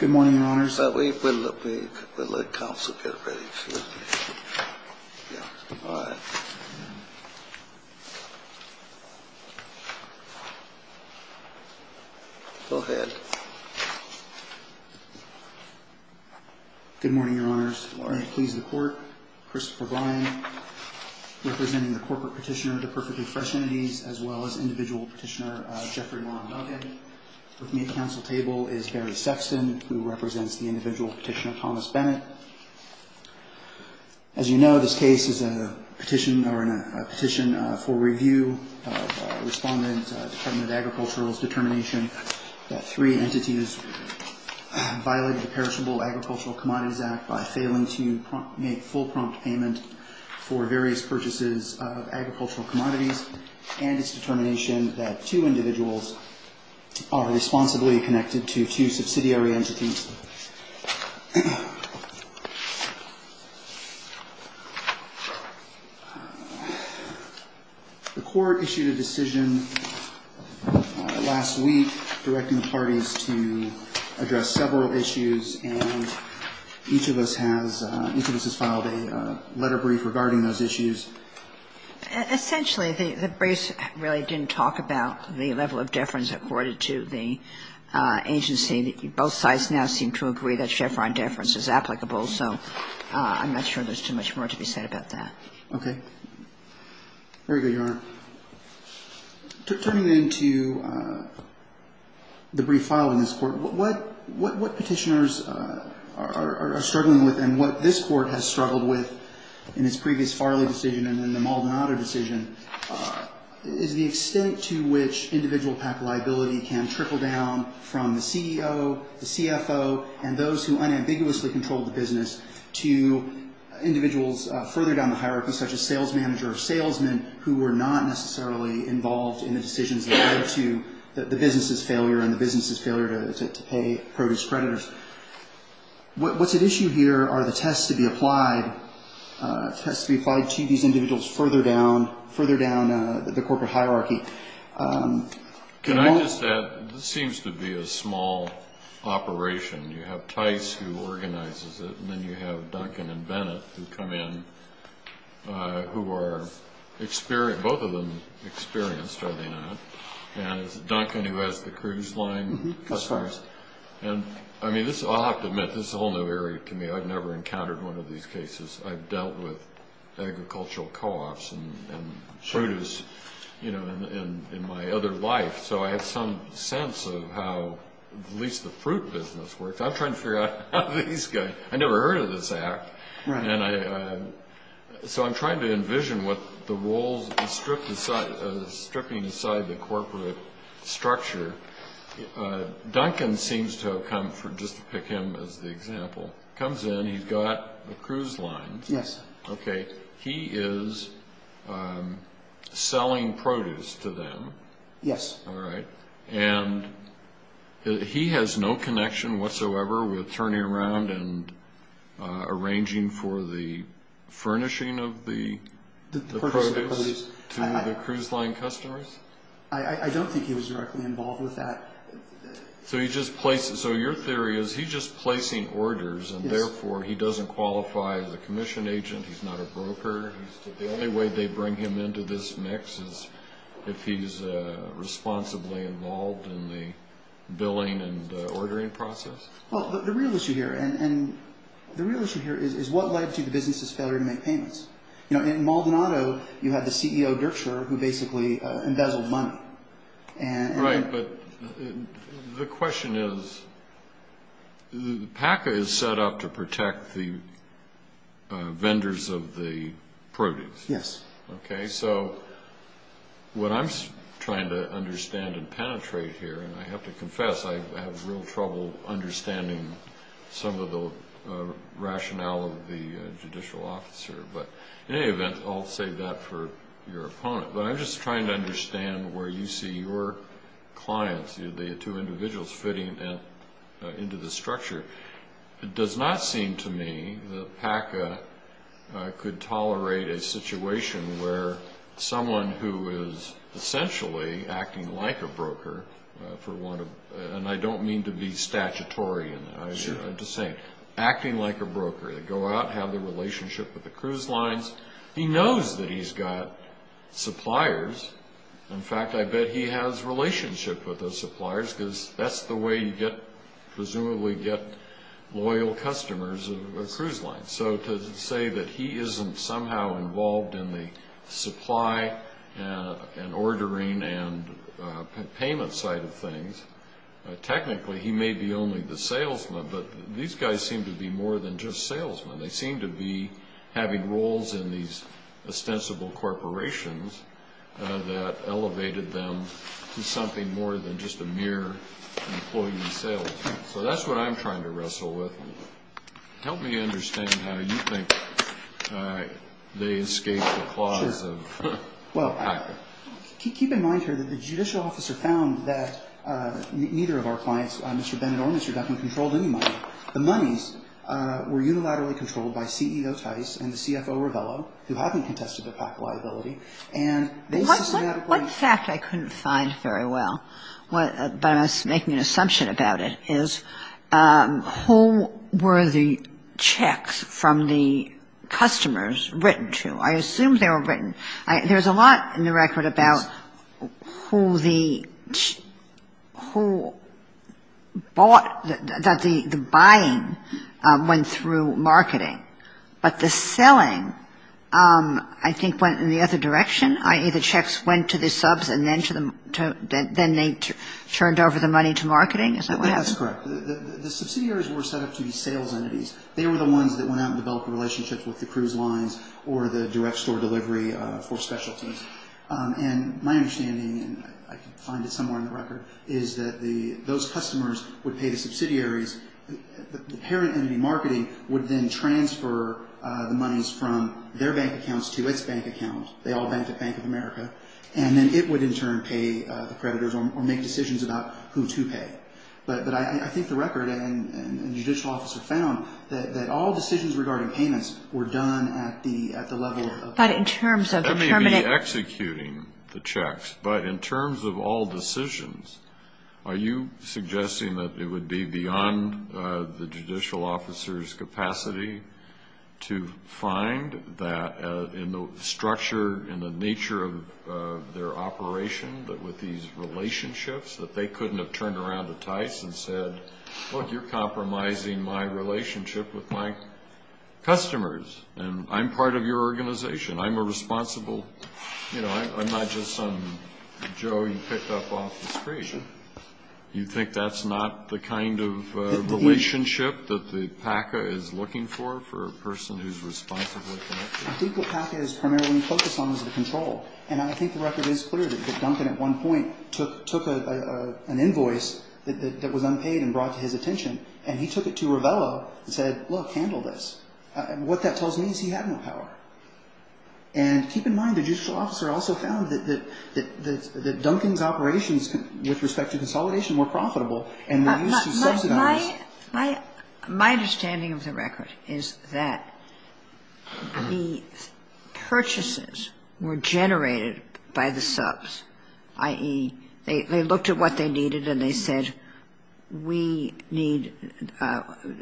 Good morning, Your Honors. We'll let counsel get ready. Go ahead. Good morning, Your Honors. Good morning. Please the Court. Christopher Bryan, representing the Corporate Petitioner of the Perfectly Fresh Entities, as well as Individual Petitioner, Jeffrey Long. Okay. With me at the counsel table is Barry Sexton, who represents the Individual Petitioner, Thomas Bennett. As you know, this case is a petition for review. Respondent, Department of Agricultural, determination that three entities violated the Perishable Agricultural Commodities Act by failing to make full prompt payment for various purchases of agricultural commodities. And its determination that two individuals are responsibly connected to two subsidiary entities. The Court issued a decision last week directing parties to address several issues, and each of us has filed a letter brief regarding those issues. Essentially, the briefs really didn't talk about the level of deference according to the agency. Both sides now seem to agree that chevron deference is applicable, so I'm not sure there's too much more to be said about that. Okay. Very good, Your Honor. Turning then to the brief filed in this Court, what petitioners are struggling with, and what this Court has struggled with in its previous Farley decision and in the Maldonado decision, is the extent to which individual liability can trickle down from the CEO, the CFO, and those who unambiguously control the business to individuals further down the hierarchy, such as sales manager or salesman, who are not necessarily involved in the decisions that led to the business's failure and the business's failure to pay produce creditors. What's at issue here are the tests to be applied to these individuals further down the corporate hierarchy. Can I just add, this seems to be a small operation. You have Tice, who organizes it, and then you have Duncan and Bennett, who come in, who are experienced. Both of them experienced, are they not? And Duncan, who has the cruise line. As far as... I'll have to admit, this is a whole new area to me. I've never encountered one of these cases. I've dealt with agricultural co-ops and produce in my other life, so I have some sense of how at least the fruit business works. I'm trying to figure out how these guys... I never heard of this act. So I'm trying to envision what the roles of stripping aside the corporate structure. Duncan seems to have come, just to pick him as the example, comes in. He's got a cruise line. Yes. Okay. He is selling produce to them. Yes. All right. And he has no connection whatsoever with turning around and arranging for the furnishing of the produce to the cruise line customers? I don't think he was directly involved with that. So your theory is he's just placing orders and therefore he doesn't qualify as a commission agent, he's not a broker. The only way they bring him into this mix is if he's responsibly involved in the billing and ordering process? Well, the real issue here is what led to the business's failure to make payments. In Maldonado, you had the CEO, Dirkscher, who basically embezzled money. Right. But the question is, PACA is set up to protect the vendors of the produce. Yes. Okay. So what I'm trying to understand and penetrate here, and I have to confess I have real trouble understanding some of the rationale of the judicial officer. But in any event, I'll save that for your opponent. But I'm just trying to understand where you see your clients, the two individuals, fitting into the structure. It does not seem to me that PACA could tolerate a situation where someone who is essentially acting like a broker, and I don't mean to be statutory, I'm just saying, acting like a broker. They go out, have the relationship with the cruise lines. He knows that he's got suppliers. In fact, I bet he has relationship with those suppliers because that's the way you get, presumably, get loyal customers of a cruise line. So to say that he isn't somehow involved in the supply and ordering and payment side of things, technically he may be only the salesman, but these guys seem to be more than just salesmen. They seem to be having roles in these ostensible corporations that elevated them to something more than just a mere employee salesman. So that's what I'm trying to wrestle with. Help me understand how you think they escaped the claws of PACA. Well, keep in mind here that the judicial officer found that neither of our clients, Mr. Bennett or Mr. Duffman, controlled any money. The monies were unilaterally controlled by CEO Tice and the CFO Revello, who hadn't contested their PACA liability. And they systematically ---- assumption about it is who were the checks from the customers written to? I assume they were written. There's a lot in the record about who the bought, that the buying went through marketing. But the selling, I think, went in the other direction, i.e. the checks went to the subs and then they turned over the money to marketing. Is that what happened? That's correct. The subsidiaries were set up to be sales entities. They were the ones that went out and developed relationships with the cruise lines or the direct store delivery for specialties. And my understanding, and I can find it somewhere in the record, is that those customers would pay the subsidiaries. The parent entity, marketing, would then transfer the monies from their bank accounts to its bank account. They all banked at Bank of America. And then it would, in turn, pay the creditors or make decisions about who to pay. But I think the record and the judicial officer found that all decisions regarding payments were done at the level of ---- But in terms of the permanent ---- That may be executing the checks. But in terms of all decisions, are you suggesting that it would be beyond the judicial officer's nature of their operation, that with these relationships, that they couldn't have turned around to Tice and said, look, you're compromising my relationship with my customers, and I'm part of your organization. I'm a responsible ---- You know, I'm not just some Joe you picked up off the street. You think that's not the kind of relationship that the PACA is looking for, for a person who's responsibly connected? I think what PACA is primarily focused on is the control. And I think the record is clear that Duncan, at one point, took an invoice that was unpaid and brought to his attention, and he took it to Ravello and said, look, handle this. What that tells me is he had no power. And keep in mind, the judicial officer also found that Duncan's operations with respect to consolidation were profitable and were used to subsidize ---- My understanding of the record is that the purchases were generated by the subs, i.e., they looked at what they needed and they said, we need,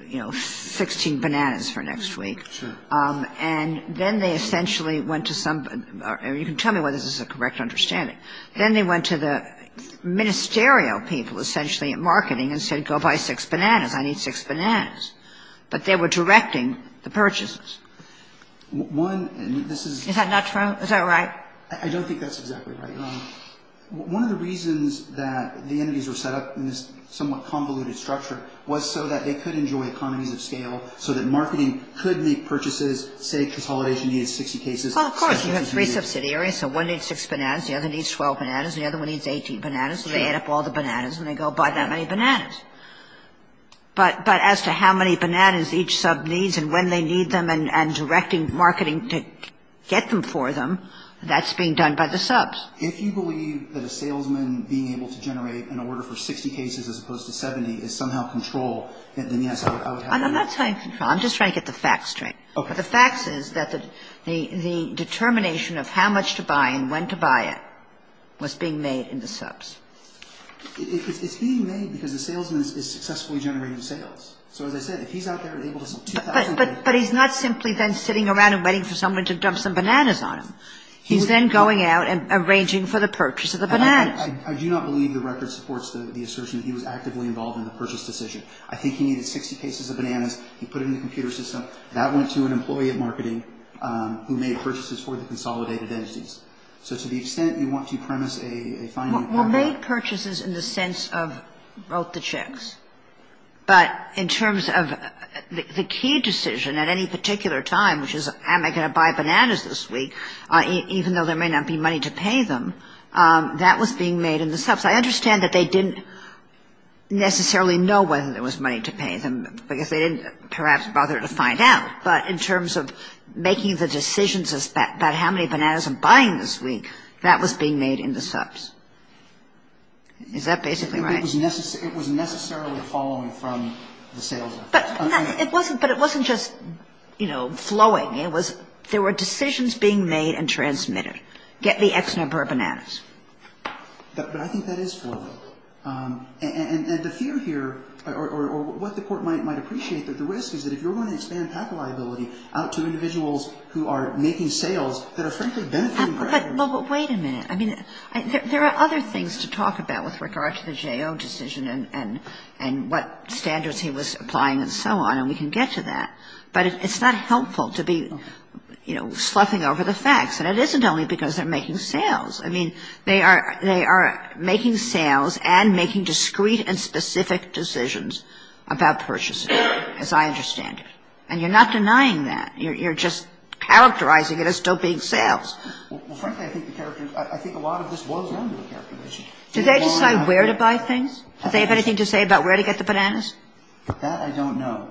you know, 16 bananas for next week. And then they essentially went to some ---- you can tell me whether this is a correct understanding. Then they went to the ministerial people essentially at marketing and said, go buy six bananas. I need six bananas. But they were directing the purchases. One, and this is ---- Is that not true? Is that right? I don't think that's exactly right. One of the reasons that the entities were set up in this somewhat convoluted structure was so that they could enjoy economies of scale, so that marketing could make purchases, say, consolidation needed 60 cases. Well, of course. You have three subsidiaries. So one needs six bananas. The other needs 12 bananas. And the other one needs 18 bananas. So they add up all the bananas and they go buy that many bananas. But as to how many bananas each sub needs and when they need them and directing marketing to get them for them, that's being done by the subs. If you believe that a salesman being able to generate an order for 60 cases as opposed to 70 is somehow control, then, yes, I would have you ---- I'm not saying control. I'm just trying to get the facts straight. Okay. The facts is that the determination of how much to buy and when to buy it was being made in the subs. It's being made because the salesman is successfully generating sales. So as I said, if he's out there able to sell 2,000 bananas ---- But he's not simply then sitting around and waiting for someone to dump some bananas on him. He's then going out and arranging for the purchase of the bananas. I do not believe the record supports the assertion that he was actively involved in the purchase decision. I think he needed 60 cases of bananas. He put it in the computer system. But that went to an employee of marketing who made purchases for the consolidated entities. So to the extent you want to premise a finding ---- Well, made purchases in the sense of wrote the checks. But in terms of the key decision at any particular time, which is am I going to buy bananas this week, even though there may not be money to pay them, that was being made in the subs. I understand that they didn't necessarily know whether there was money to pay them because they didn't perhaps bother to find out. But in terms of making the decisions about how many bananas I'm buying this week, that was being made in the subs. Is that basically right? It was necessarily following from the sales. But it wasn't just, you know, flowing. It was there were decisions being made and transmitted. Get the X number of bananas. But I think that is flowing. And the fear here, or what the Court might appreciate, that the risk is that if you're going to expand patent liability out to individuals who are making sales that are, frankly, benefitting creditors ---- But wait a minute. I mean, there are other things to talk about with regard to the J.O. decision and what standards he was applying and so on, and we can get to that. But it's not helpful to be, you know, sloughing over the facts. And it isn't only because they're making sales. I mean, they are making sales and making discreet and specific decisions about purchasing, as I understand it. And you're not denying that. You're just characterizing it as still being sales. Well, frankly, I think the characters ---- I think a lot of this boils down to the characters. Did they decide where to buy things? Did they have anything to say about where to get the bananas? That I don't know.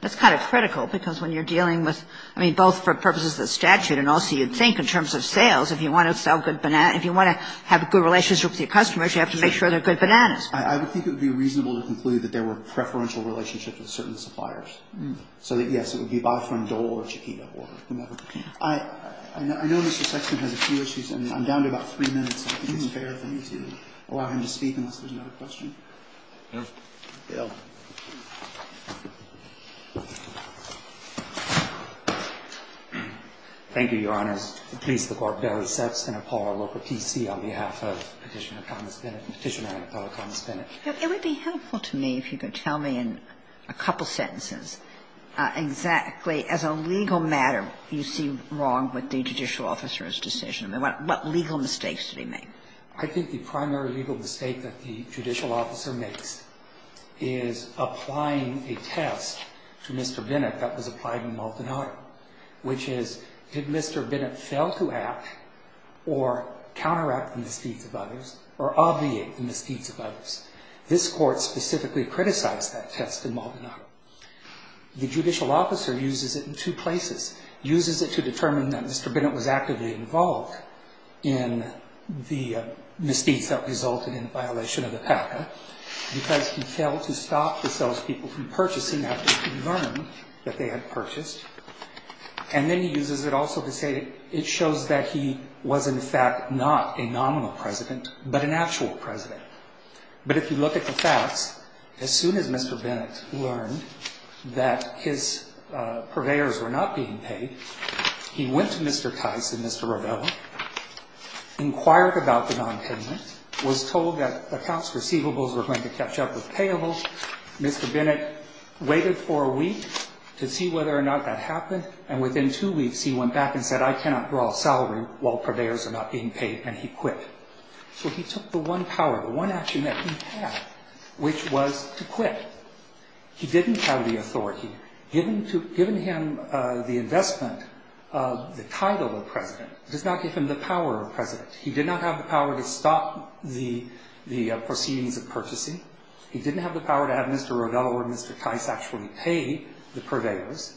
That's kind of critical because when you're dealing with, I mean, both for purposes of the statute and also, you'd think, in terms of sales, if you want to sell good bananas, if you want to have a good relationship with your customers, you have to make sure they're good bananas. I would think it would be reasonable to conclude that there were preferential relationships with certain suppliers. So that, yes, it would be buy from Dole or Chiquita or whomever. I know Mr. Sexton has a few issues, and I'm down to about three minutes. I think it's fair for me to allow him to speak unless there's another question. Thank you. Thank you, Your Honors. The please of the Court, Barrett, Sexton, and Paul are local PC on behalf of Petitioner Thomas Bennett and Petitioner Annapollo Thomas Bennett. It would be helpful to me if you could tell me in a couple sentences exactly as a legal matter you see wrong with the judicial officer's decision. I mean, what legal mistakes did he make? I think the primary legal mistake that the judicial officer makes is applying a test to Mr. Bennett that was applied in Maldonado, which is, did Mr. Bennett fail to act or counteract the misdeeds of others or obviate the misdeeds of others? This Court specifically criticized that test in Maldonado. The judicial officer uses it in two places. Uses it to determine that Mr. Bennett was actively involved in the misdeeds that resulted in the violation of the PACA because he failed to stop the salespeople from purchasing after he learned that they had purchased. And then he uses it also to say it shows that he was, in fact, not a nominal president but an actual president. But if you look at the facts, as soon as Mr. Bennett learned that his purveyors were not being paid, he went to Mr. Tice and Mr. Rovello, inquired about the nonpayment, was told that accounts receivables were going to catch up with payables. Mr. Bennett waited for a week to see whether or not that happened, and within two weeks he went back and said, I cannot draw a salary while purveyors are not being paid, and he quit. So he took the one power, the one action that he had, which was to quit. He didn't have the authority. Giving him the investment, the title of president, does not give him the power of president. He did not have the power to stop the proceedings of purchasing. He didn't have the power to have Mr. Rovello or Mr. Tice actually pay the purveyors.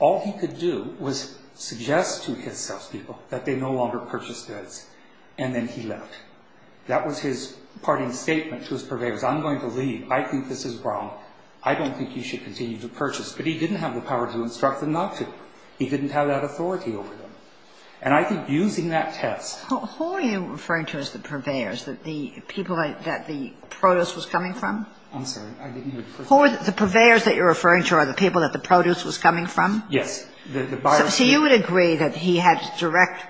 All he could do was suggest to his salespeople that they no longer purchased goods, and then he left. That was his parting statement to his purveyors. I'm going to leave. I think this is wrong. I don't think you should continue to purchase. But he didn't have the power to instruct them not to. He didn't have that authority over them. And I think using that test. Who are you referring to as the purveyors, the people that the produce was coming from? I'm sorry. I didn't hear the question. The purveyors that you're referring to are the people that the produce was coming Yes. So you would agree that he had direct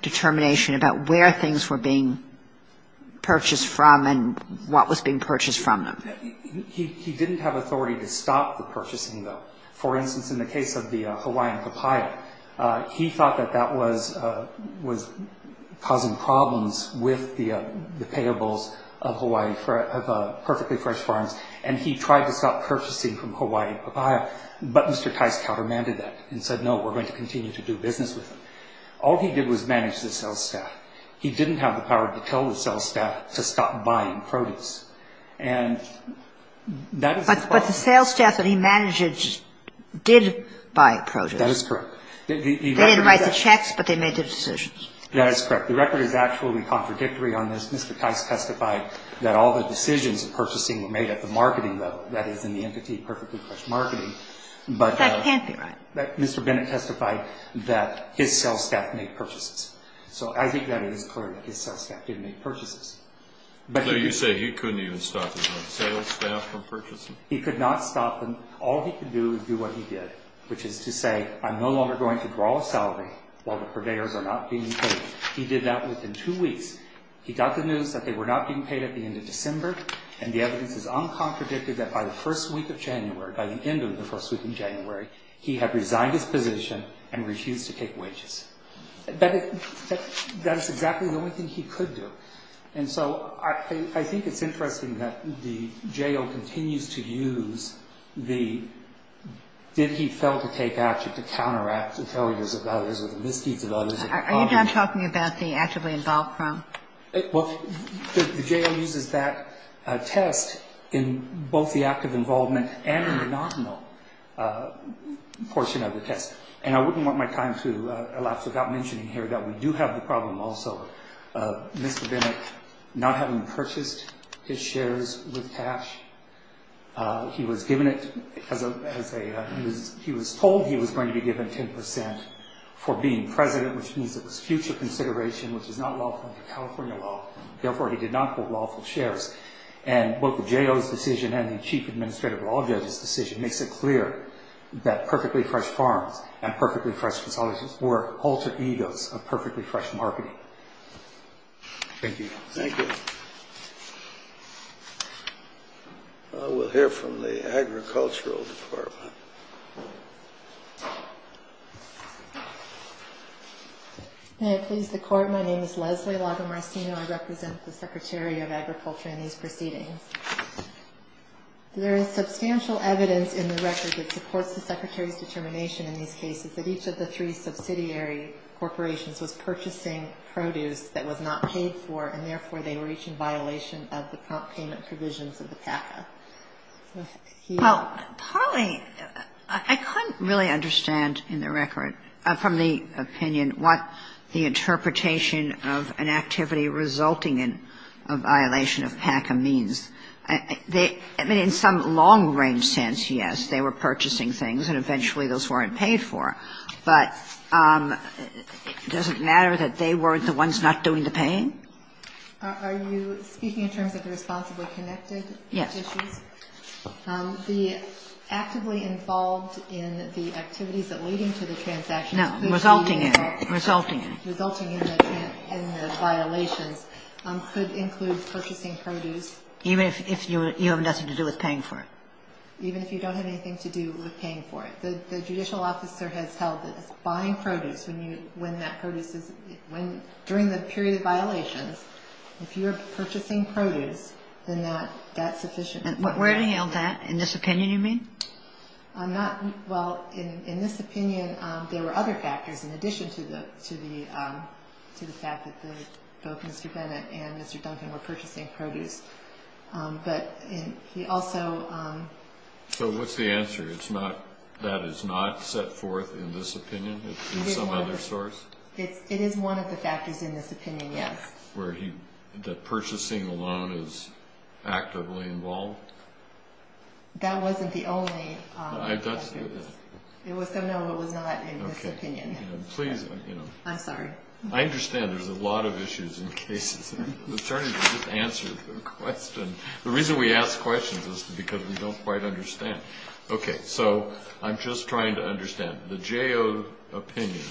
determination about where things were being purchased from them. He didn't have authority to stop the purchasing, though. For instance, in the case of the Hawaiian papaya, he thought that that was causing problems with the payables of Hawaii, of Perfectly Fresh Farms. And he tried to stop purchasing from Hawaii papaya, but Mr. Tice countermanded that and said, no, we're going to continue to do business with them. All he did was manage the sales staff. He didn't have the power to tell the sales staff to stop buying produce. But the sales staff that he managed did buy produce. That is correct. They didn't write the checks, but they made the decisions. That is correct. The record is actually contradictory on this. Mr. Tice testified that all the decisions of purchasing were made at the marketing level, that is, in the entity Perfectly Fresh Marketing. That can't be right. But Mr. Bennett testified that his sales staff made purchases. So I think that it is clear that his sales staff did make purchases. You say he couldn't even stop his own sales staff from purchasing. He could not stop them. All he could do is do what he did, which is to say, I'm no longer going to draw a salary while the purveyors are not being paid. He did that within two weeks. He got the news that they were not being paid at the end of December, and the evidence is uncontradicted that by the first week of January, by the end of the first week of January, he had resigned his position and refused to take wages. That is exactly the only thing he could do. And so I think it's interesting that the J.O. continues to use the did he fail to take action to counteract the failures of others or the misdeeds of others. Are you not talking about the actively involved firm? Well, the J.O. uses that test in both the active involvement and in the nominal portion of the test. And I wouldn't want my time to elapse without mentioning here that we do have the problem also of Mr. Bennett not having purchased his shares with cash. He was given it as a he was told he was going to be given 10 percent for being president, which means it was future consideration, which is not lawful under California law. Therefore, he did not quote lawful shares. And both the J.O.'s decision and the chief administrative law judge's decision makes it clear that perfectly fresh farms and perfectly fresh facilities were alter egos of perfectly fresh marketing. Thank you. Thank you. We'll hear from the Agricultural Department. May it please the Court, my name is Leslie Lagomarsino. I represent the Secretary of Agriculture in these proceedings. There is substantial evidence in the record that supports the Secretary's determination in these cases that each of the three subsidiary corporations was purchasing produce that was not paid for, and therefore, they were each in violation of the prompt payment provisions of the PACA. Well, Polly, I couldn't really understand in the record from the opinion what the I mean, in some long-range sense, yes, they were purchasing things, and eventually those weren't paid for. But does it matter that they weren't the ones not doing the paying? Are you speaking in terms of the responsibly connected issues? Yes. The actively involved in the activities that leading to the transactions resulting in the violations could include purchasing produce. Even if you have nothing to do with paying for it? Even if you don't have anything to do with paying for it. The judicial officer has held that buying produce when that produce is during the period of violations, if you're purchasing produce, then that's sufficient. And where do you know that? In this opinion, you mean? Well, in this opinion, there were other factors in addition to the fact that both Mr. Bennett and Mr. Duncan were purchasing produce, but he also So what's the answer? That is not set forth in this opinion? It's in some other source? It is one of the factors in this opinion, yes. The purchasing alone is actively involved? That wasn't the only factor. So no, it was not in this opinion. Please. I'm sorry. I understand there's a lot of issues in cases. I'm trying to just answer the question. The reason we ask questions is because we don't quite understand. Okay, so I'm just trying to understand. The JO opinion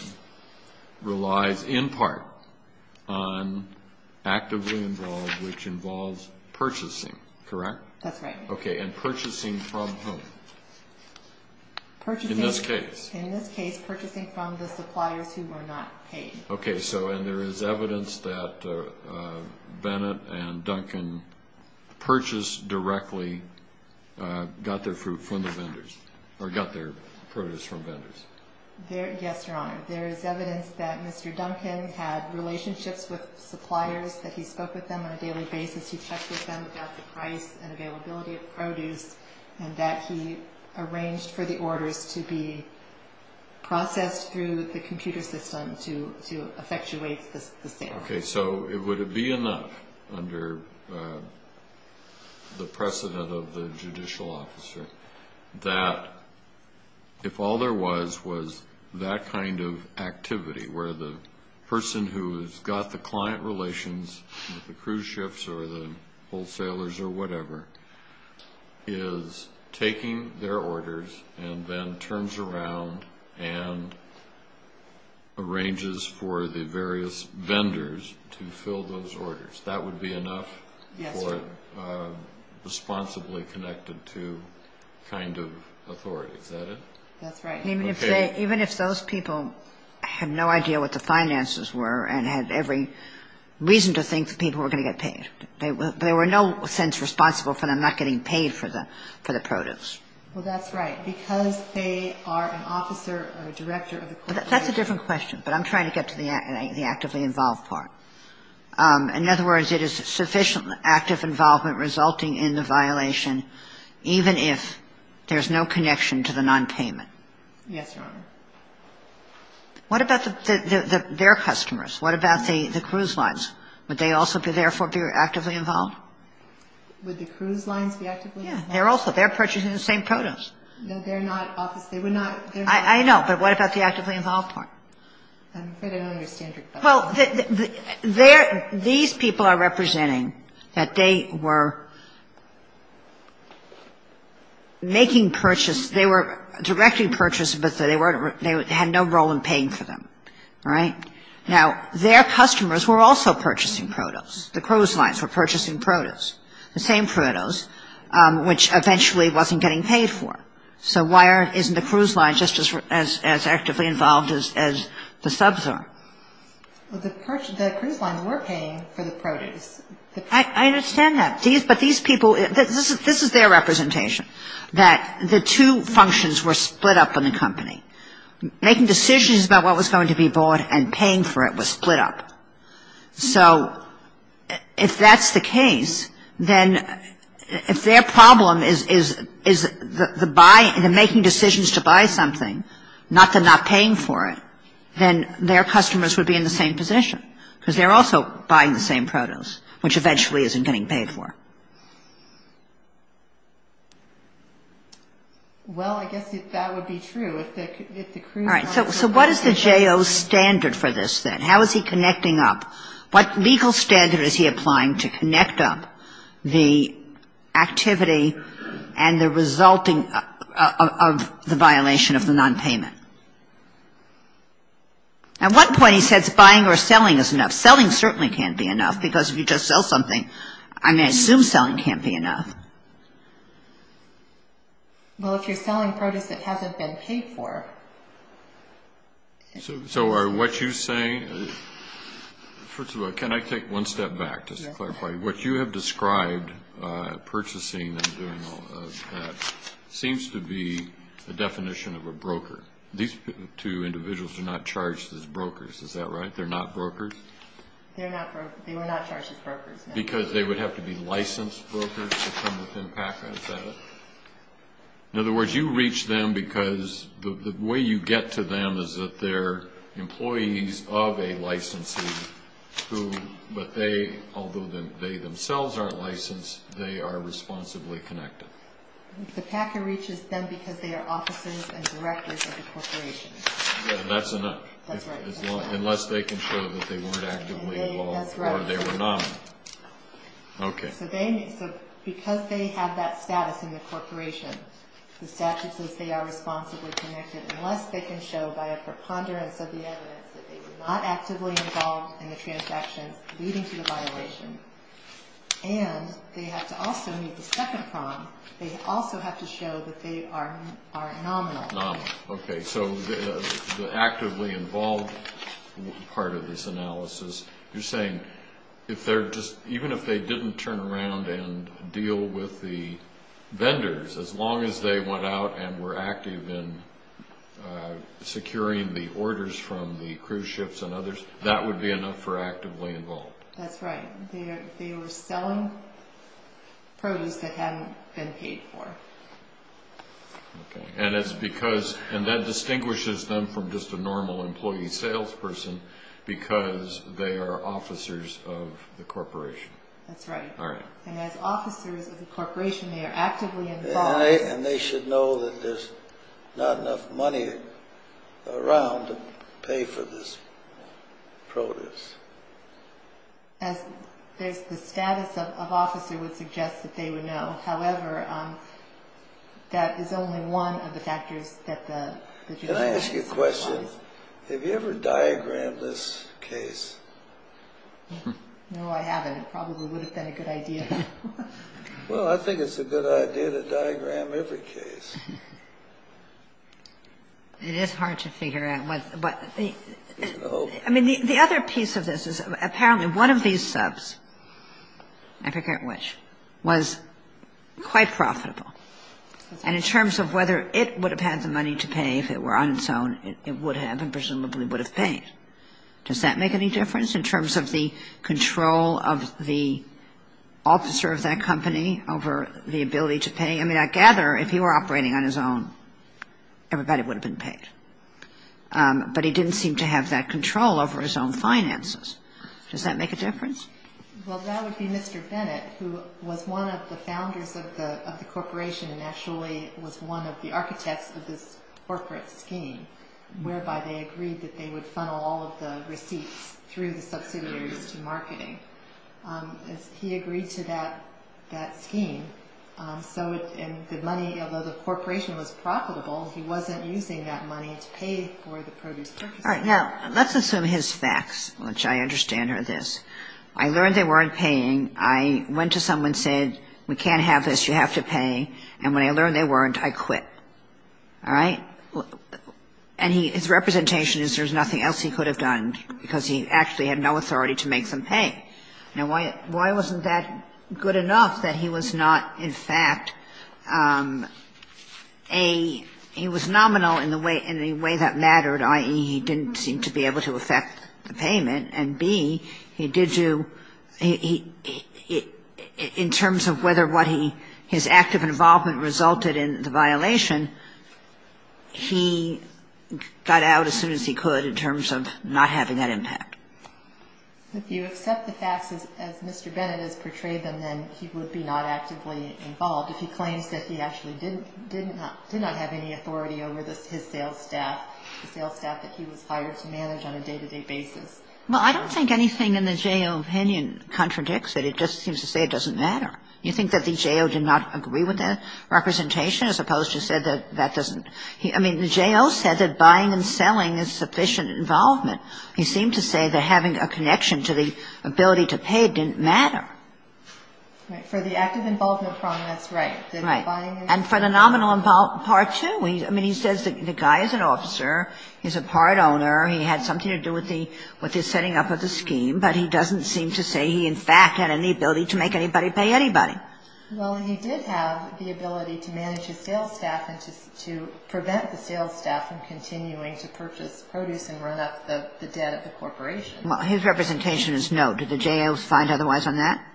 relies in part on actively involved, which involves purchasing, correct? That's right. Okay, and purchasing from whom? In this case. In this case, purchasing from the suppliers who were not paid. Okay, and there is evidence that Bennett and Duncan purchased directly, got their fruit from the vendors, or got their produce from vendors? Yes, Your Honor. There is evidence that Mr. Duncan had relationships with suppliers, that he spoke with them on a daily basis, he checked with them about the price and availability of produce, and that he arranged for the orders to be processed through the computer system to effectuate the sale. Okay, so it would be enough under the precedent of the judicial officer that if all there was was that kind of activity, where the person who has got the client relations with the cruise ships or the wholesalers or whatever is taking their orders and then turns around and arranges for the various vendors to fill those orders. That would be enough for responsibly connected to kind of authority. Is that it? That's right. Even if those people had no idea what the finances were and had every reason to think that people were going to get paid. They were in no sense responsible for them not getting paid for the produce. Well, that's right. Because they are an officer or a director of the cruise ship. That's a different question, but I'm trying to get to the actively involved part. In other words, it is sufficient active involvement resulting in the violation, even if there's no connection to the nonpayment. Yes, Your Honor. What about their customers? What about the cruise lines? Would they also therefore be actively involved? Would the cruise lines be actively involved? Yes, they're also. They're purchasing the same produce. No, they're not. They would not. I know, but what about the actively involved part? I'm afraid I don't understand, Your Honor. Well, these people are representing that they were making purchase. They were directly purchasing, but they had no role in paying for them, right? Now, their customers were also purchasing produce. The cruise lines were purchasing produce, the same produce, which eventually wasn't getting paid for. So why isn't the cruise line just as actively involved as the subs are? Well, the cruise lines were paying for the produce. I understand that, but these people, this is their representation, that the two functions were split up in the company. Making decisions about what was going to be bought and paying for it was split up. So if that's the case, then if their problem is the making decisions to buy something, not the not paying for it, then their customers would be in the same position because they're also buying the same produce, which eventually isn't getting paid for. Well, I guess if that would be true, if the cruise lines were paying for it. All right. So what is the J.O. standard for this, then? How is he connecting up? What legal standard is he applying to connect up the activity and the resulting of the violation of the nonpayment? At one point he says buying or selling is enough. Selling certainly can't be enough because if you just sell something, I'm going to assume selling can't be enough. Well, if you're selling produce that hasn't been paid for. So are what you're saying, first of all, can I take one step back just to clarify? What you have described, purchasing and doing all of that, seems to be a definition of a broker. These two individuals are not charged as brokers, is that right? They're not brokers? They were not charged as brokers, no. Because they would have to be licensed brokers to come within PACA, is that it? In other words, you reach them because the way you get to them is that they're employees of a licensee, but although they themselves aren't licensed, they are responsibly connected. The PACA reaches them because they are officers and directors of the corporation. That's enough. That's right. Unless they can show that they weren't actively involved or they were not. Okay. So because they have that status in the corporation, the statute says they are responsibly connected unless they can show by a preponderance of the evidence that they were not actively involved in the transactions leading to the violation. And they have to also meet the second prong. They also have to show that they are nominal. Nominal. Okay. So the actively involved part of this analysis, you're saying even if they didn't turn around and deal with the vendors, as long as they went out and were active in securing the orders from the cruise ships and others, that would be enough for actively involved? That's right. They were selling produce that hadn't been paid for. Okay. And that distinguishes them from just a normal employee salesperson because they are officers of the corporation. That's right. All right. And as officers of the corporation, they are actively involved. And they should know that there's not enough money around to pay for this produce. As the status of officer would suggest that they would know. However, that is only one of the factors that the judicial process applies. Can I ask you a question? Have you ever diagrammed this case? No, I haven't. It probably would have been a good idea. Well, I think it's a good idea to diagram every case. It is hard to figure out. I mean, the other piece of this is apparently one of these subs, I forget which, was quite profitable. And in terms of whether it would have had the money to pay if it were on its own, it would have and presumably would have paid. Does that make any difference in terms of the control of the officer of that company over the ability to pay? I mean, I gather if he were operating on his own, everybody would have been paid. But he didn't seem to have that control over his own finances. Does that make a difference? Well, that would be Mr. Bennett, who was one of the founders of the corporation and actually was one of the architects of this corporate scheme whereby they agreed that they would funnel all of the receipts through the subsidiaries to marketing. He agreed to that scheme. So the money, although the corporation was profitable, he wasn't using that money to pay for the produce. All right. Now, let's assume his facts, which I understand are this. I learned they weren't paying. I went to someone and said, we can't have this. You have to pay. And when I learned they weren't, I quit. All right. And his representation is there's nothing else he could have done because he actually had no authority to make them pay. Now, why wasn't that good enough that he was not, in fact, A, he was nominal in the way that mattered, i.e., he didn't seem to be able to affect the payment? And, B, in terms of whether his active involvement resulted in the violation, he got out as soon as he could in terms of not having that impact. If you accept the facts as Mr. Bennett has portrayed them, then he would be not actively involved. If he claims that he actually did not have any authority over his sales staff, that he was hired to manage on a day-to-day basis. Well, I don't think anything in the J.O. opinion contradicts it. It just seems to say it doesn't matter. You think that the J.O. did not agree with that representation as opposed to say that that doesn't? I mean, the J.O. said that buying and selling is sufficient involvement. He seemed to say that having a connection to the ability to pay didn't matter. Right. For the active involvement problem, that's right. Right. And for the nominal part, too. I mean, he says the guy is an officer. He's a part owner. He had something to do with his setting up of the scheme. But he doesn't seem to say he, in fact, had any ability to make anybody pay anybody. Well, he did have the ability to manage his sales staff and to prevent the sales staff from continuing to purchase produce and run up the debt of the corporation. Well, his representation is no. Did the J.O. find otherwise on that?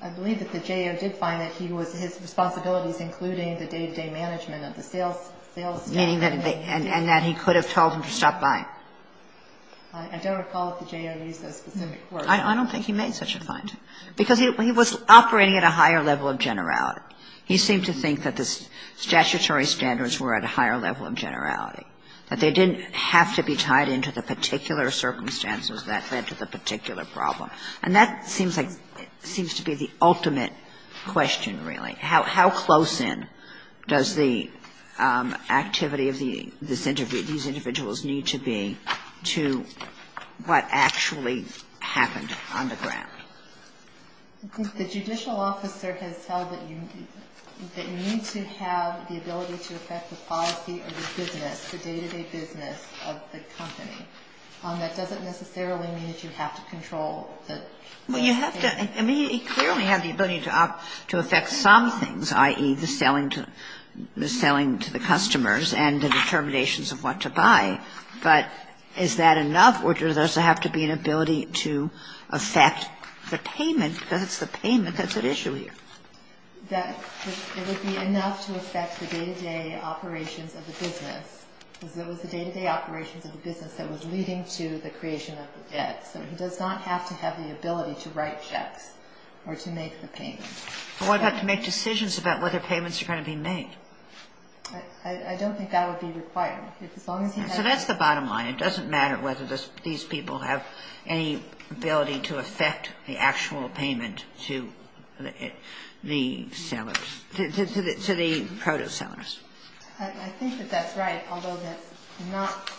I believe that the J.O. did find that he was his responsibilities, including the day-to-day management of the sales staff. Meaning that he could have told them to stop buying. I don't recall if the J.O. used that specific word. I don't think he made such a finding. Because he was operating at a higher level of generality. He seemed to think that the statutory standards were at a higher level of generality, that they didn't have to be tied into the particular circumstances that led to the particular And that seems like to be the ultimate question, really. How close in does the activity of these individuals need to be to what actually happened on the ground? The judicial officer has said that you need to have the ability to affect the policy or the business, the day-to-day business of the company. That doesn't necessarily mean that you have to control the sales staff. Well, you have to. I mean, he clearly had the ability to affect some things, i.e., the selling to the customers and the determinations of what to buy. But is that enough, or does it have to be an ability to affect the payment? Because it's the payment that's at issue here. That it would be enough to affect the day-to-day operations of the business. Because it was the day-to-day operations of the business that was leading to the creation of the debt. So he does not have to have the ability to write checks or to make the payment. What about to make decisions about whether payments are going to be made? I don't think that would be required. So that's the bottom line. It doesn't matter whether these people have any ability to affect the actual payment to the sellers, to the proto-sellers. I think that that's right. Although that's not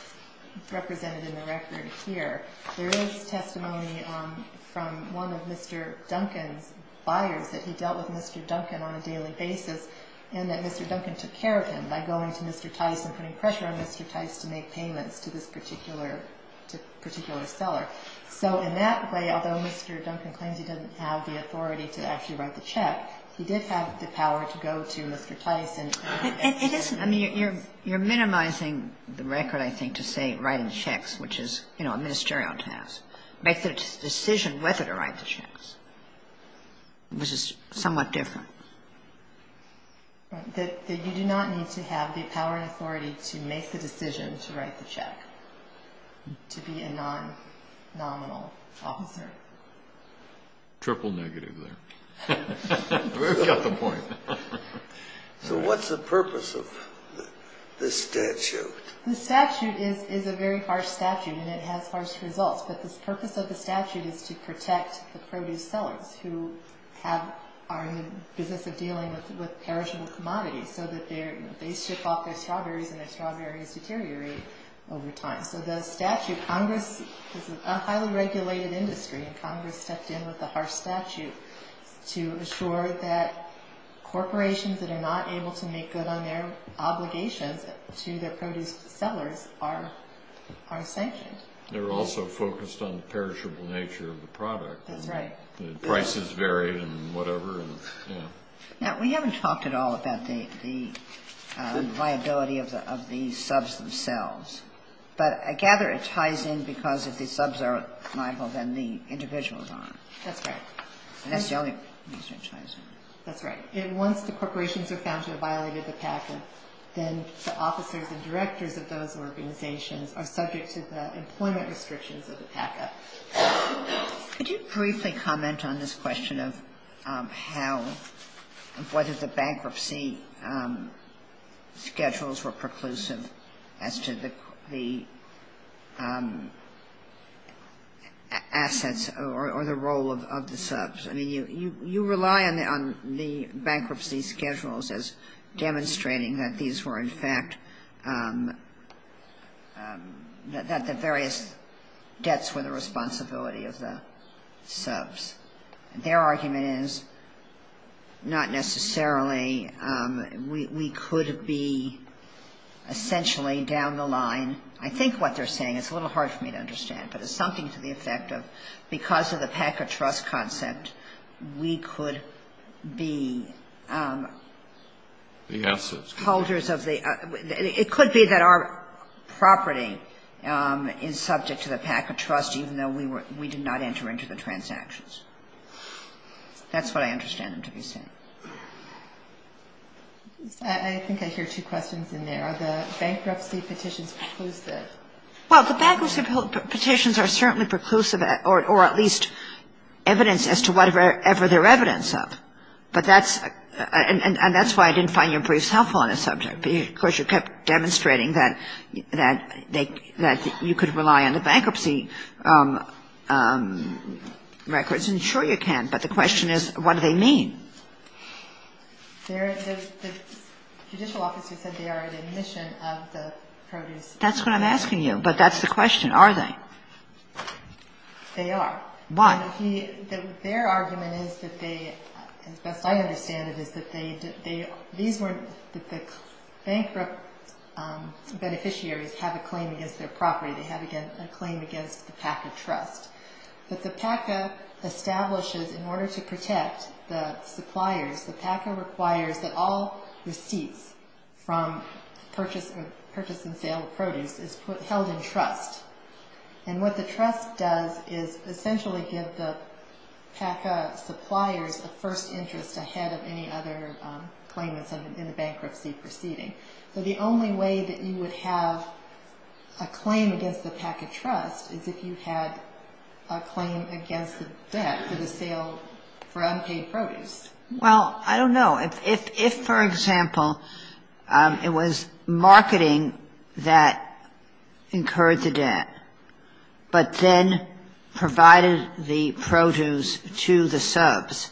represented in the record here, there is testimony from one of Mr. Duncan's buyers that he dealt with Mr. Duncan on a daily basis and that Mr. Duncan took care of him by going to Mr. Tice and putting pressure on Mr. Tice to make payments to this particular seller. So in that way, although Mr. Duncan claims he doesn't have the authority to actually write the check, he did have the power to go to Mr. Tice. You're minimizing the record, I think, to say writing checks, which is a ministerial task. Make the decision whether to write the checks, which is somewhat different. You do not need to have the power and authority to make the decision to write the check to be a non-nominal officer. Triple negative there. We've got the point. So what's the purpose of this statute? The statute is a very harsh statute and it has harsh results, but the purpose of the statute is to protect the produce sellers who are in the business of dealing with perishable commodities so that they ship off their strawberries and their strawberries deteriorate over time. So the statute, Congress is a highly regulated industry, and Congress stepped in with a harsh statute to assure that corporations that are not able to make good on their obligations to their produce sellers are sanctioned. They're also focused on the perishable nature of the product. That's right. Prices vary and whatever. Now, we haven't talked at all about the viability of the subs themselves, but I gather it ties in because if the subs are liable, then the individuals aren't. That's right. That's the only reason it ties in. That's right. Once the corporations are found to have violated the PACA, then the officers and directors of those organizations are subject to the employment restrictions of the PACA. Could you briefly comment on this question of how, whether the bankruptcy schedules were preclusive as to the assets or the role of the subs? I mean, you rely on the bankruptcy schedules as demonstrating that these were in fact, that the various debts were the responsibility of the subs. Their argument is not necessarily. We could be essentially down the line. I think what they're saying, it's a little hard for me to understand, but it's something to the effect of because of the PACA trust concept, we could be holders of the assets. That's what I understand them to be saying. I think I hear two questions in there. Are the bankruptcy petitions preclusive? Well, the bankruptcy petitions are certainly preclusive, or at least evidence as to whatever they're evidence of, and that's why I didn't find your briefs helpful on this subject, because you kept demonstrating that you could rely on the bankruptcy records. I'm sure you can, but the question is what do they mean? The judicial officer said they are an admission of the produce. That's what I'm asking you, but that's the question. Are they? They are. Why? Their argument is that they, as best I understand it, is that the bankrupt beneficiaries have a claim against their property. They have a claim against the PACA trust. But the PACA establishes, in order to protect the suppliers, the PACA requires that all receipts from purchase and sale of produce is held in trust, and what the trust does is essentially give the PACA suppliers a first interest ahead of any other claimants in the bankruptcy proceeding. So the only way that you would have a claim against the PACA trust is if you had a claim against the debt for the sale for unpaid produce. Well, I don't know. If, for example, it was marketing that incurred the debt, but then provided the produce to the subs,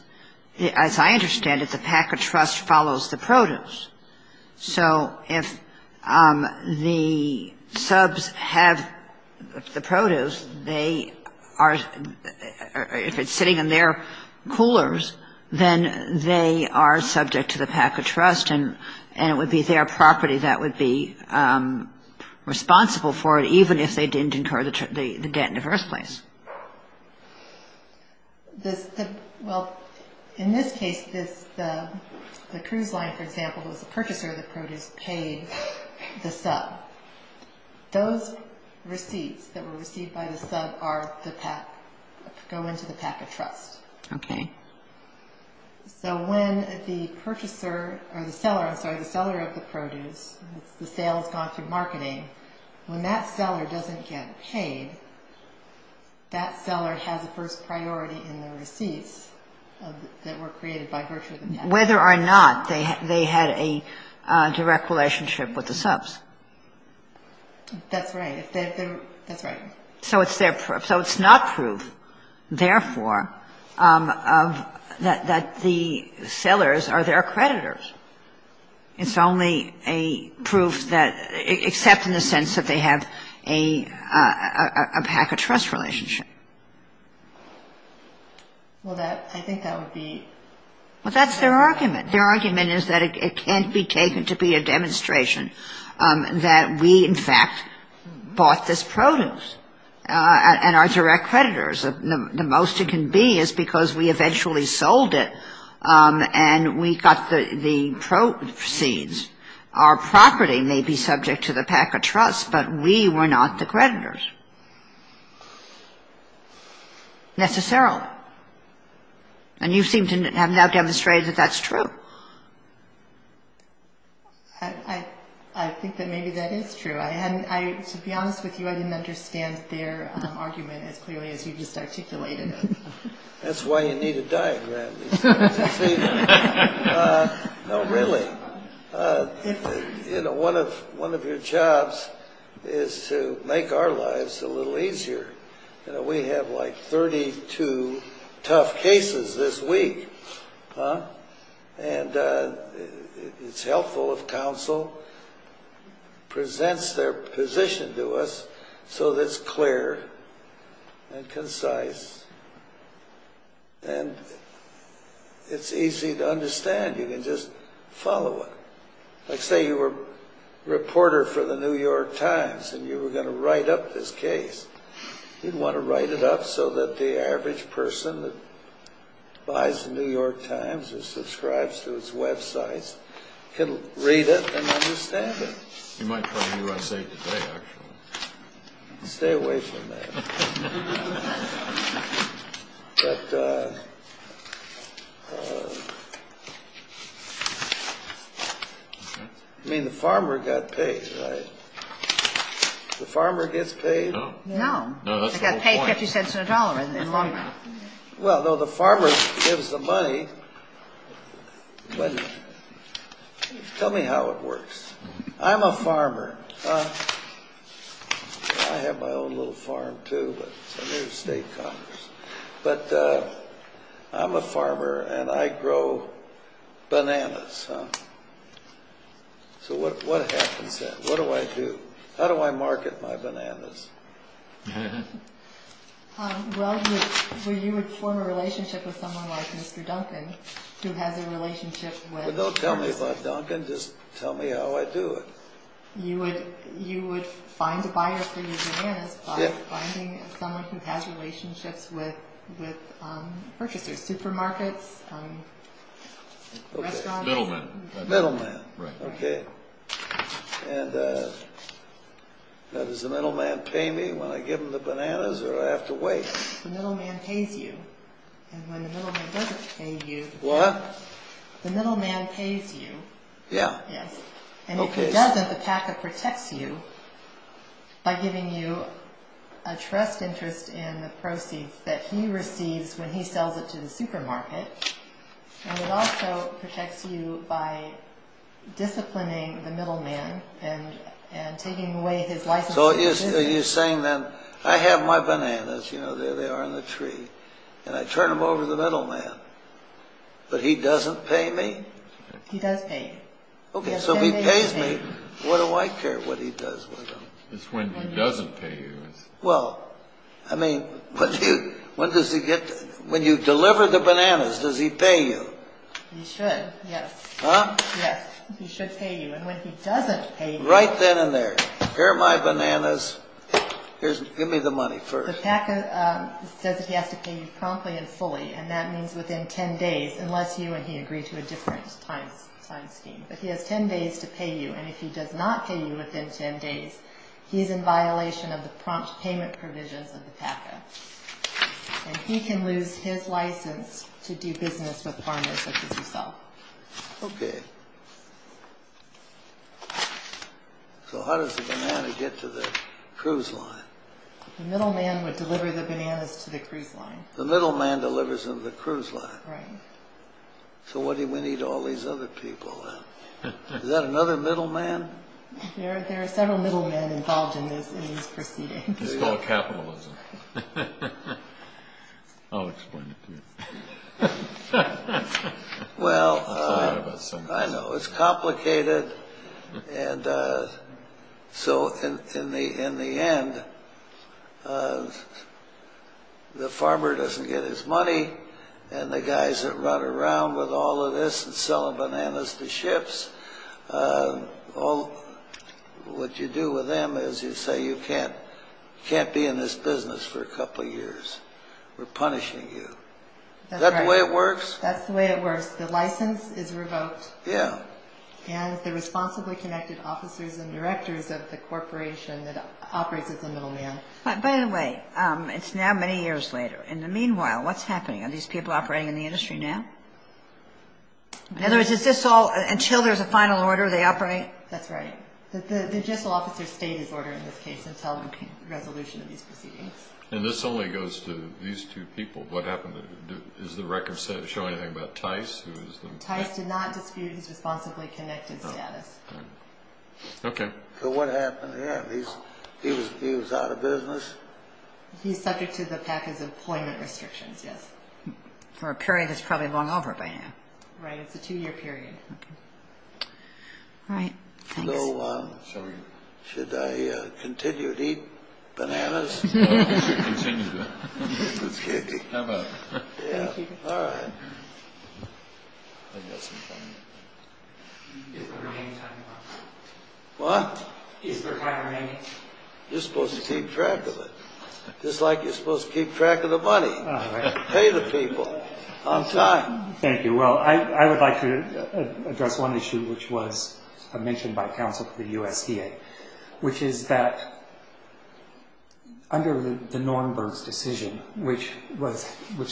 as I understand it, the PACA trust follows the produce. So if the subs have the produce, they are, if it's sitting in their coolers, then they are subject to the PACA trust, and it would be their property that would be responsible for it, even if they didn't incur the debt in the first place. Well, in this case, the cruise line, for example, was the purchaser of the produce paid the sub. Those receipts that were received by the sub are the PACA, go into the PACA trust. Okay. So when the purchaser, or the seller, I'm sorry, the seller of the produce, the sale has gone through marketing, when that seller doesn't get paid, that seller has a first priority in the receipts that were created by virtue of the PACA. Whether or not they had a direct relationship with the subs. That's right. That's right. So it's their proof. So it's not proof, therefore, that the sellers are their creditors. It's only a proof that, except in the sense that they have a PACA trust relationship. Well, I think that would be... Well, that's their argument. Their argument is that it can't be taken to be a demonstration that we, in fact, bought this produce, and are direct creditors. The most it can be is because we eventually sold it, and we got the proceeds. Our property may be subject to the PACA trust, but we were not the creditors. Necessarily. And you seem to have now demonstrated that that's true. I think that maybe that is true. To be honest with you, I didn't understand their argument as clearly as you just articulated it. That's why you need a diagram. No, really. One of your jobs is to make our lives a little easier. We have like 32 tough cases this week. And it's helpful if counsel presents their position to us so that it's clear and concise. And it's easy to understand. You can just follow it. Like say you were a reporter for the New York Times, and you were going to write up this case. You'd want to write it up so that the average person that buys the New York Times or subscribes to its websites can read it and understand it. You might try USA Today, actually. Stay away from that. I mean, the farmer got paid, right? The farmer gets paid? No. He's got to pay 50 cents in a dollar in the long run. Well, no, the farmer gives the money. Tell me how it works. I'm a farmer. I have my own little farm, too, but it's under the state Congress. But I'm a farmer, and I grow bananas. So what happens then? What do I do? How do I market my bananas? Well, you would form a relationship with someone like Mr. Duncan, who has a relationship with... Well, don't tell me about Duncan. Just tell me how I do it. You would find a buyer for your bananas by finding someone who has relationships with purchasers, supermarkets, restaurants... Middlemen. Middlemen. Okay. And does the middleman pay me when I give him the bananas, or do I have to wait? The middleman pays you. And when the middleman doesn't pay you... What? The middleman pays you. Yeah. Yes. And if he doesn't, the PACA protects you by giving you a trust interest in the proceeds that he receives when he sells it to the supermarket. And it also protects you by disciplining the middleman and taking away his license... So you're saying then, I have my bananas, you know, there they are in the tree, and I turn them over to the middleman, but he doesn't pay me? He does pay you. Okay, so if he pays me, what do I care what he does with them? It's when he doesn't pay you. Well, I mean, when you deliver the bananas, does he pay you? He should, yes. Huh? Yes. He should pay you. And when he doesn't pay you... Right then and there. Here are my bananas. Give me the money first. The PACA says that he has to pay you promptly and fully, and that means within 10 days, unless you and he agree to a different time scheme. But he has 10 days to pay you, and if he does not pay you within 10 days, he is in violation of the prompt payment provisions of the PACA. And he can lose his license to do business with farmers such as himself. Okay. So how does the banana get to the cruise line? The middleman would deliver the bananas to the cruise line. The middleman delivers them to the cruise line. Right. So what do we need all these other people then? Is that another middleman? There are several middlemen involved in these proceedings. It's called capitalism. I'll explain it to you. Well, I know. It's complicated. And so in the end, the farmer doesn't get his money, and the guys that run around with all of this and sell bananas to ships, what you do with them is you say you can't be in this business for a couple of years. We're punishing you. Is that the way it works? That's the way it works. The license is revoked. Yeah. And the responsibly connected officers and directors of the corporation that operates as the middleman. By the way, it's now many years later. In the meanwhile, what's happening? Are these people operating in the industry now? In other words, is this all until there's a final order they operate? That's right. The general officer's state is ordered in this case until the resolution of these proceedings. And this only goes to these two people. What happened? Is the record showing anything about Tice? Tice did not dispute his responsibly connected status. Okay. So what happened here? He was out of business? He's subject to the package of employment restrictions, yes. For a period that's probably long over by now. Right. It's a two-year period. Okay. All right. Thanks. Hello. Should I continue to eat bananas? You should continue to. Okay. How about it? Yeah. Thank you. All right. Is there time remaining? What? Is there time remaining? You're supposed to keep track of it. Just like you're supposed to keep track of the money. Pay the people on time. Thank you. Well, I would like to address one issue, which was mentioned by counsel to the USDA, which is that under the Norenberg's decision, which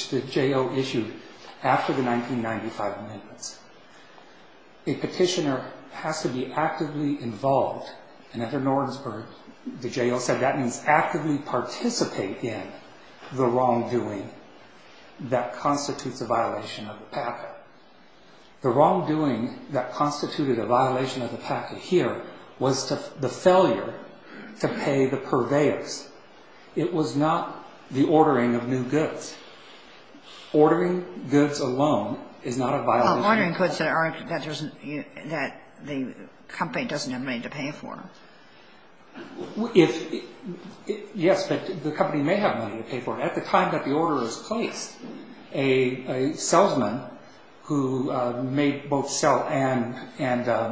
the J.O. issued after the 1995 amendments, a petitioner has to be actively involved. And under Norenberg, the J.O. said that means actively participate in the wrongdoing that constitutes a violation of the packet. The wrongdoing that constituted a violation of the packet here was the failure to pay the purveyors. It was not the ordering of new goods. Ordering goods alone is not a violation. Ordering goods that the company doesn't have money to pay for. Yes, but the company may have money to pay for it. At the time that the order is placed, a salesman who may both sell and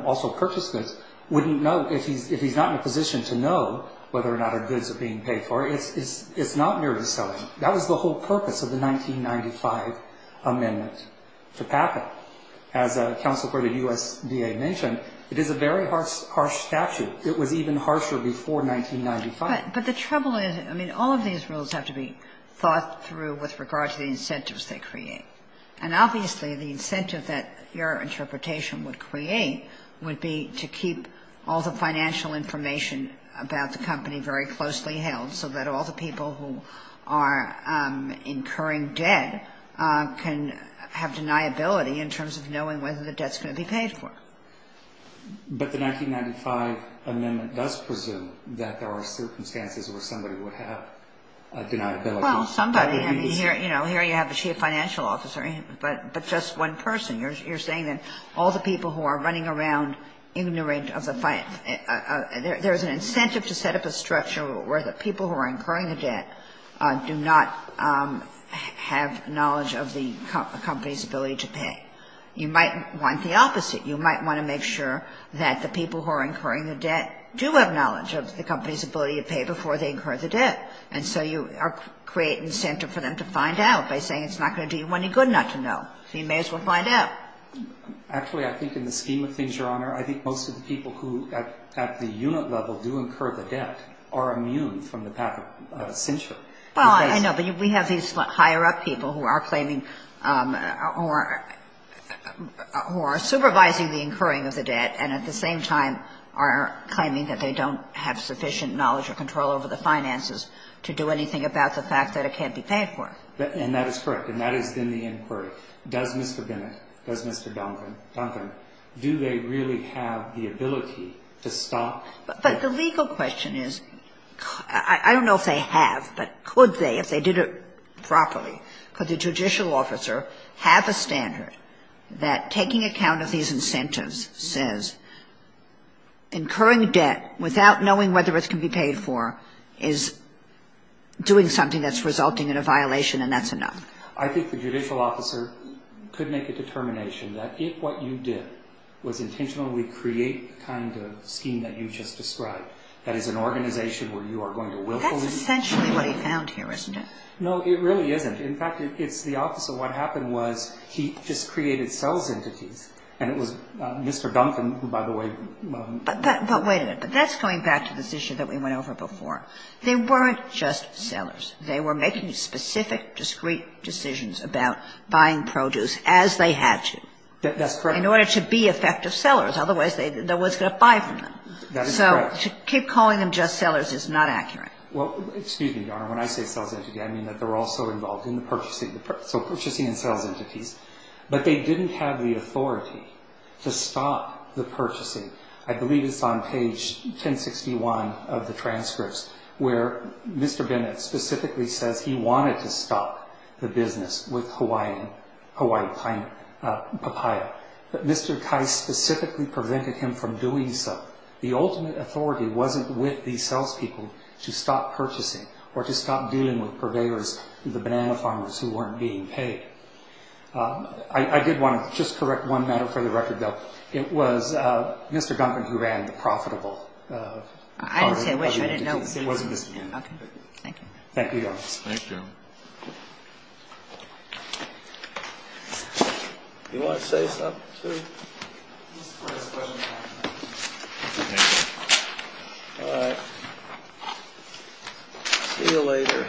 also purchase goods wouldn't know, if he's not in a position to know whether or not our goods are being paid for, it's not merely selling. That was the whole purpose of the 1995 amendment to packet. As counsel heard the USDA mention, it is a very harsh statute. It was even harsher before 1995. But the trouble is, I mean, all of these rules have to be thought through with regard to the incentives they create. And obviously, the incentive that your interpretation would create would be to keep all the financial information about the company very closely held so that all the people who are incurring debt can have deniability in terms of knowing whether the debt's going to be paid for. But the 1995 amendment does presume that there are circumstances where somebody would have deniability. Well, somebody. I mean, here, you know, here you have a chief financial officer, but just one person. You're saying that all the people who are running around ignorant of the finance. There's an incentive to set up a structure where the people who are incurring the debt do not have knowledge of the company's ability to pay. You might want the opposite. You might want to make sure that the people who are incurring the debt do have knowledge of the company's ability to pay before they incur the debt. And so you create an incentive for them to find out by saying it's not going to do you any good not to know. So you may as well find out. Actually, I think in the scheme of things, Your Honor, I think most of the people who at the unit level do incur the debt are immune from the path of censure. Well, I know. But we have these higher-up people who are claiming or who are supervising the incurring of the debt and at the same time are claiming that they don't have sufficient knowledge or control over the finances to do anything about the fact that it can't be paid for. And that is correct. And that has been the inquiry. Does Mr. Bennett, does Mr. Duncan, do they really have the ability to stop the debt? But the legal question is, I don't know if they have, but could they if they did it properly? Could the judicial officer have a standard that taking account of these incentives says incurring a debt without knowing whether it can be paid for is doing something that's resulting in a violation and that's enough? I think the judicial officer could make a determination that if what you did was intentionally create the kind of scheme that you just described, that is an organization where you are going to willfully... That's essentially what he found here, isn't it? No, it really isn't. In fact, it's the officer. What happened was he just created sales entities. And it was Mr. Duncan, who, by the way... But wait a minute. But that's going back to this issue that we went over before. They weren't just sailors. They were making specific, discreet decisions about buying produce as they had to... That's correct. ...in order to be effective sellers. Otherwise, they didn't know what to buy from them. That is correct. So to keep calling them just sellers is not accurate. Well, excuse me, Your Honor. When I say sales entity, I mean that they were also involved in the purchasing of the product. So purchasing and sales entities. But they didn't have the authority to stop the purchasing. I believe it's on page 1061 of the transcripts, where Mr. Bennett specifically says he wanted to stop the business with Hawaiian papaya. But Mr. Kai specifically prevented him from doing so. The ultimate authority wasn't with these sales people to stop purchasing or to stop dealing with purveyors, the banana farmers who weren't being paid. I did want to just correct one matter for the record, though. It was Mr. Duncan who ran the profitable... I didn't say which one. It wasn't his name. Okay. Thank you. Thank you, Your Honor. Thank you. Do you want to say something, too? All right. See you later.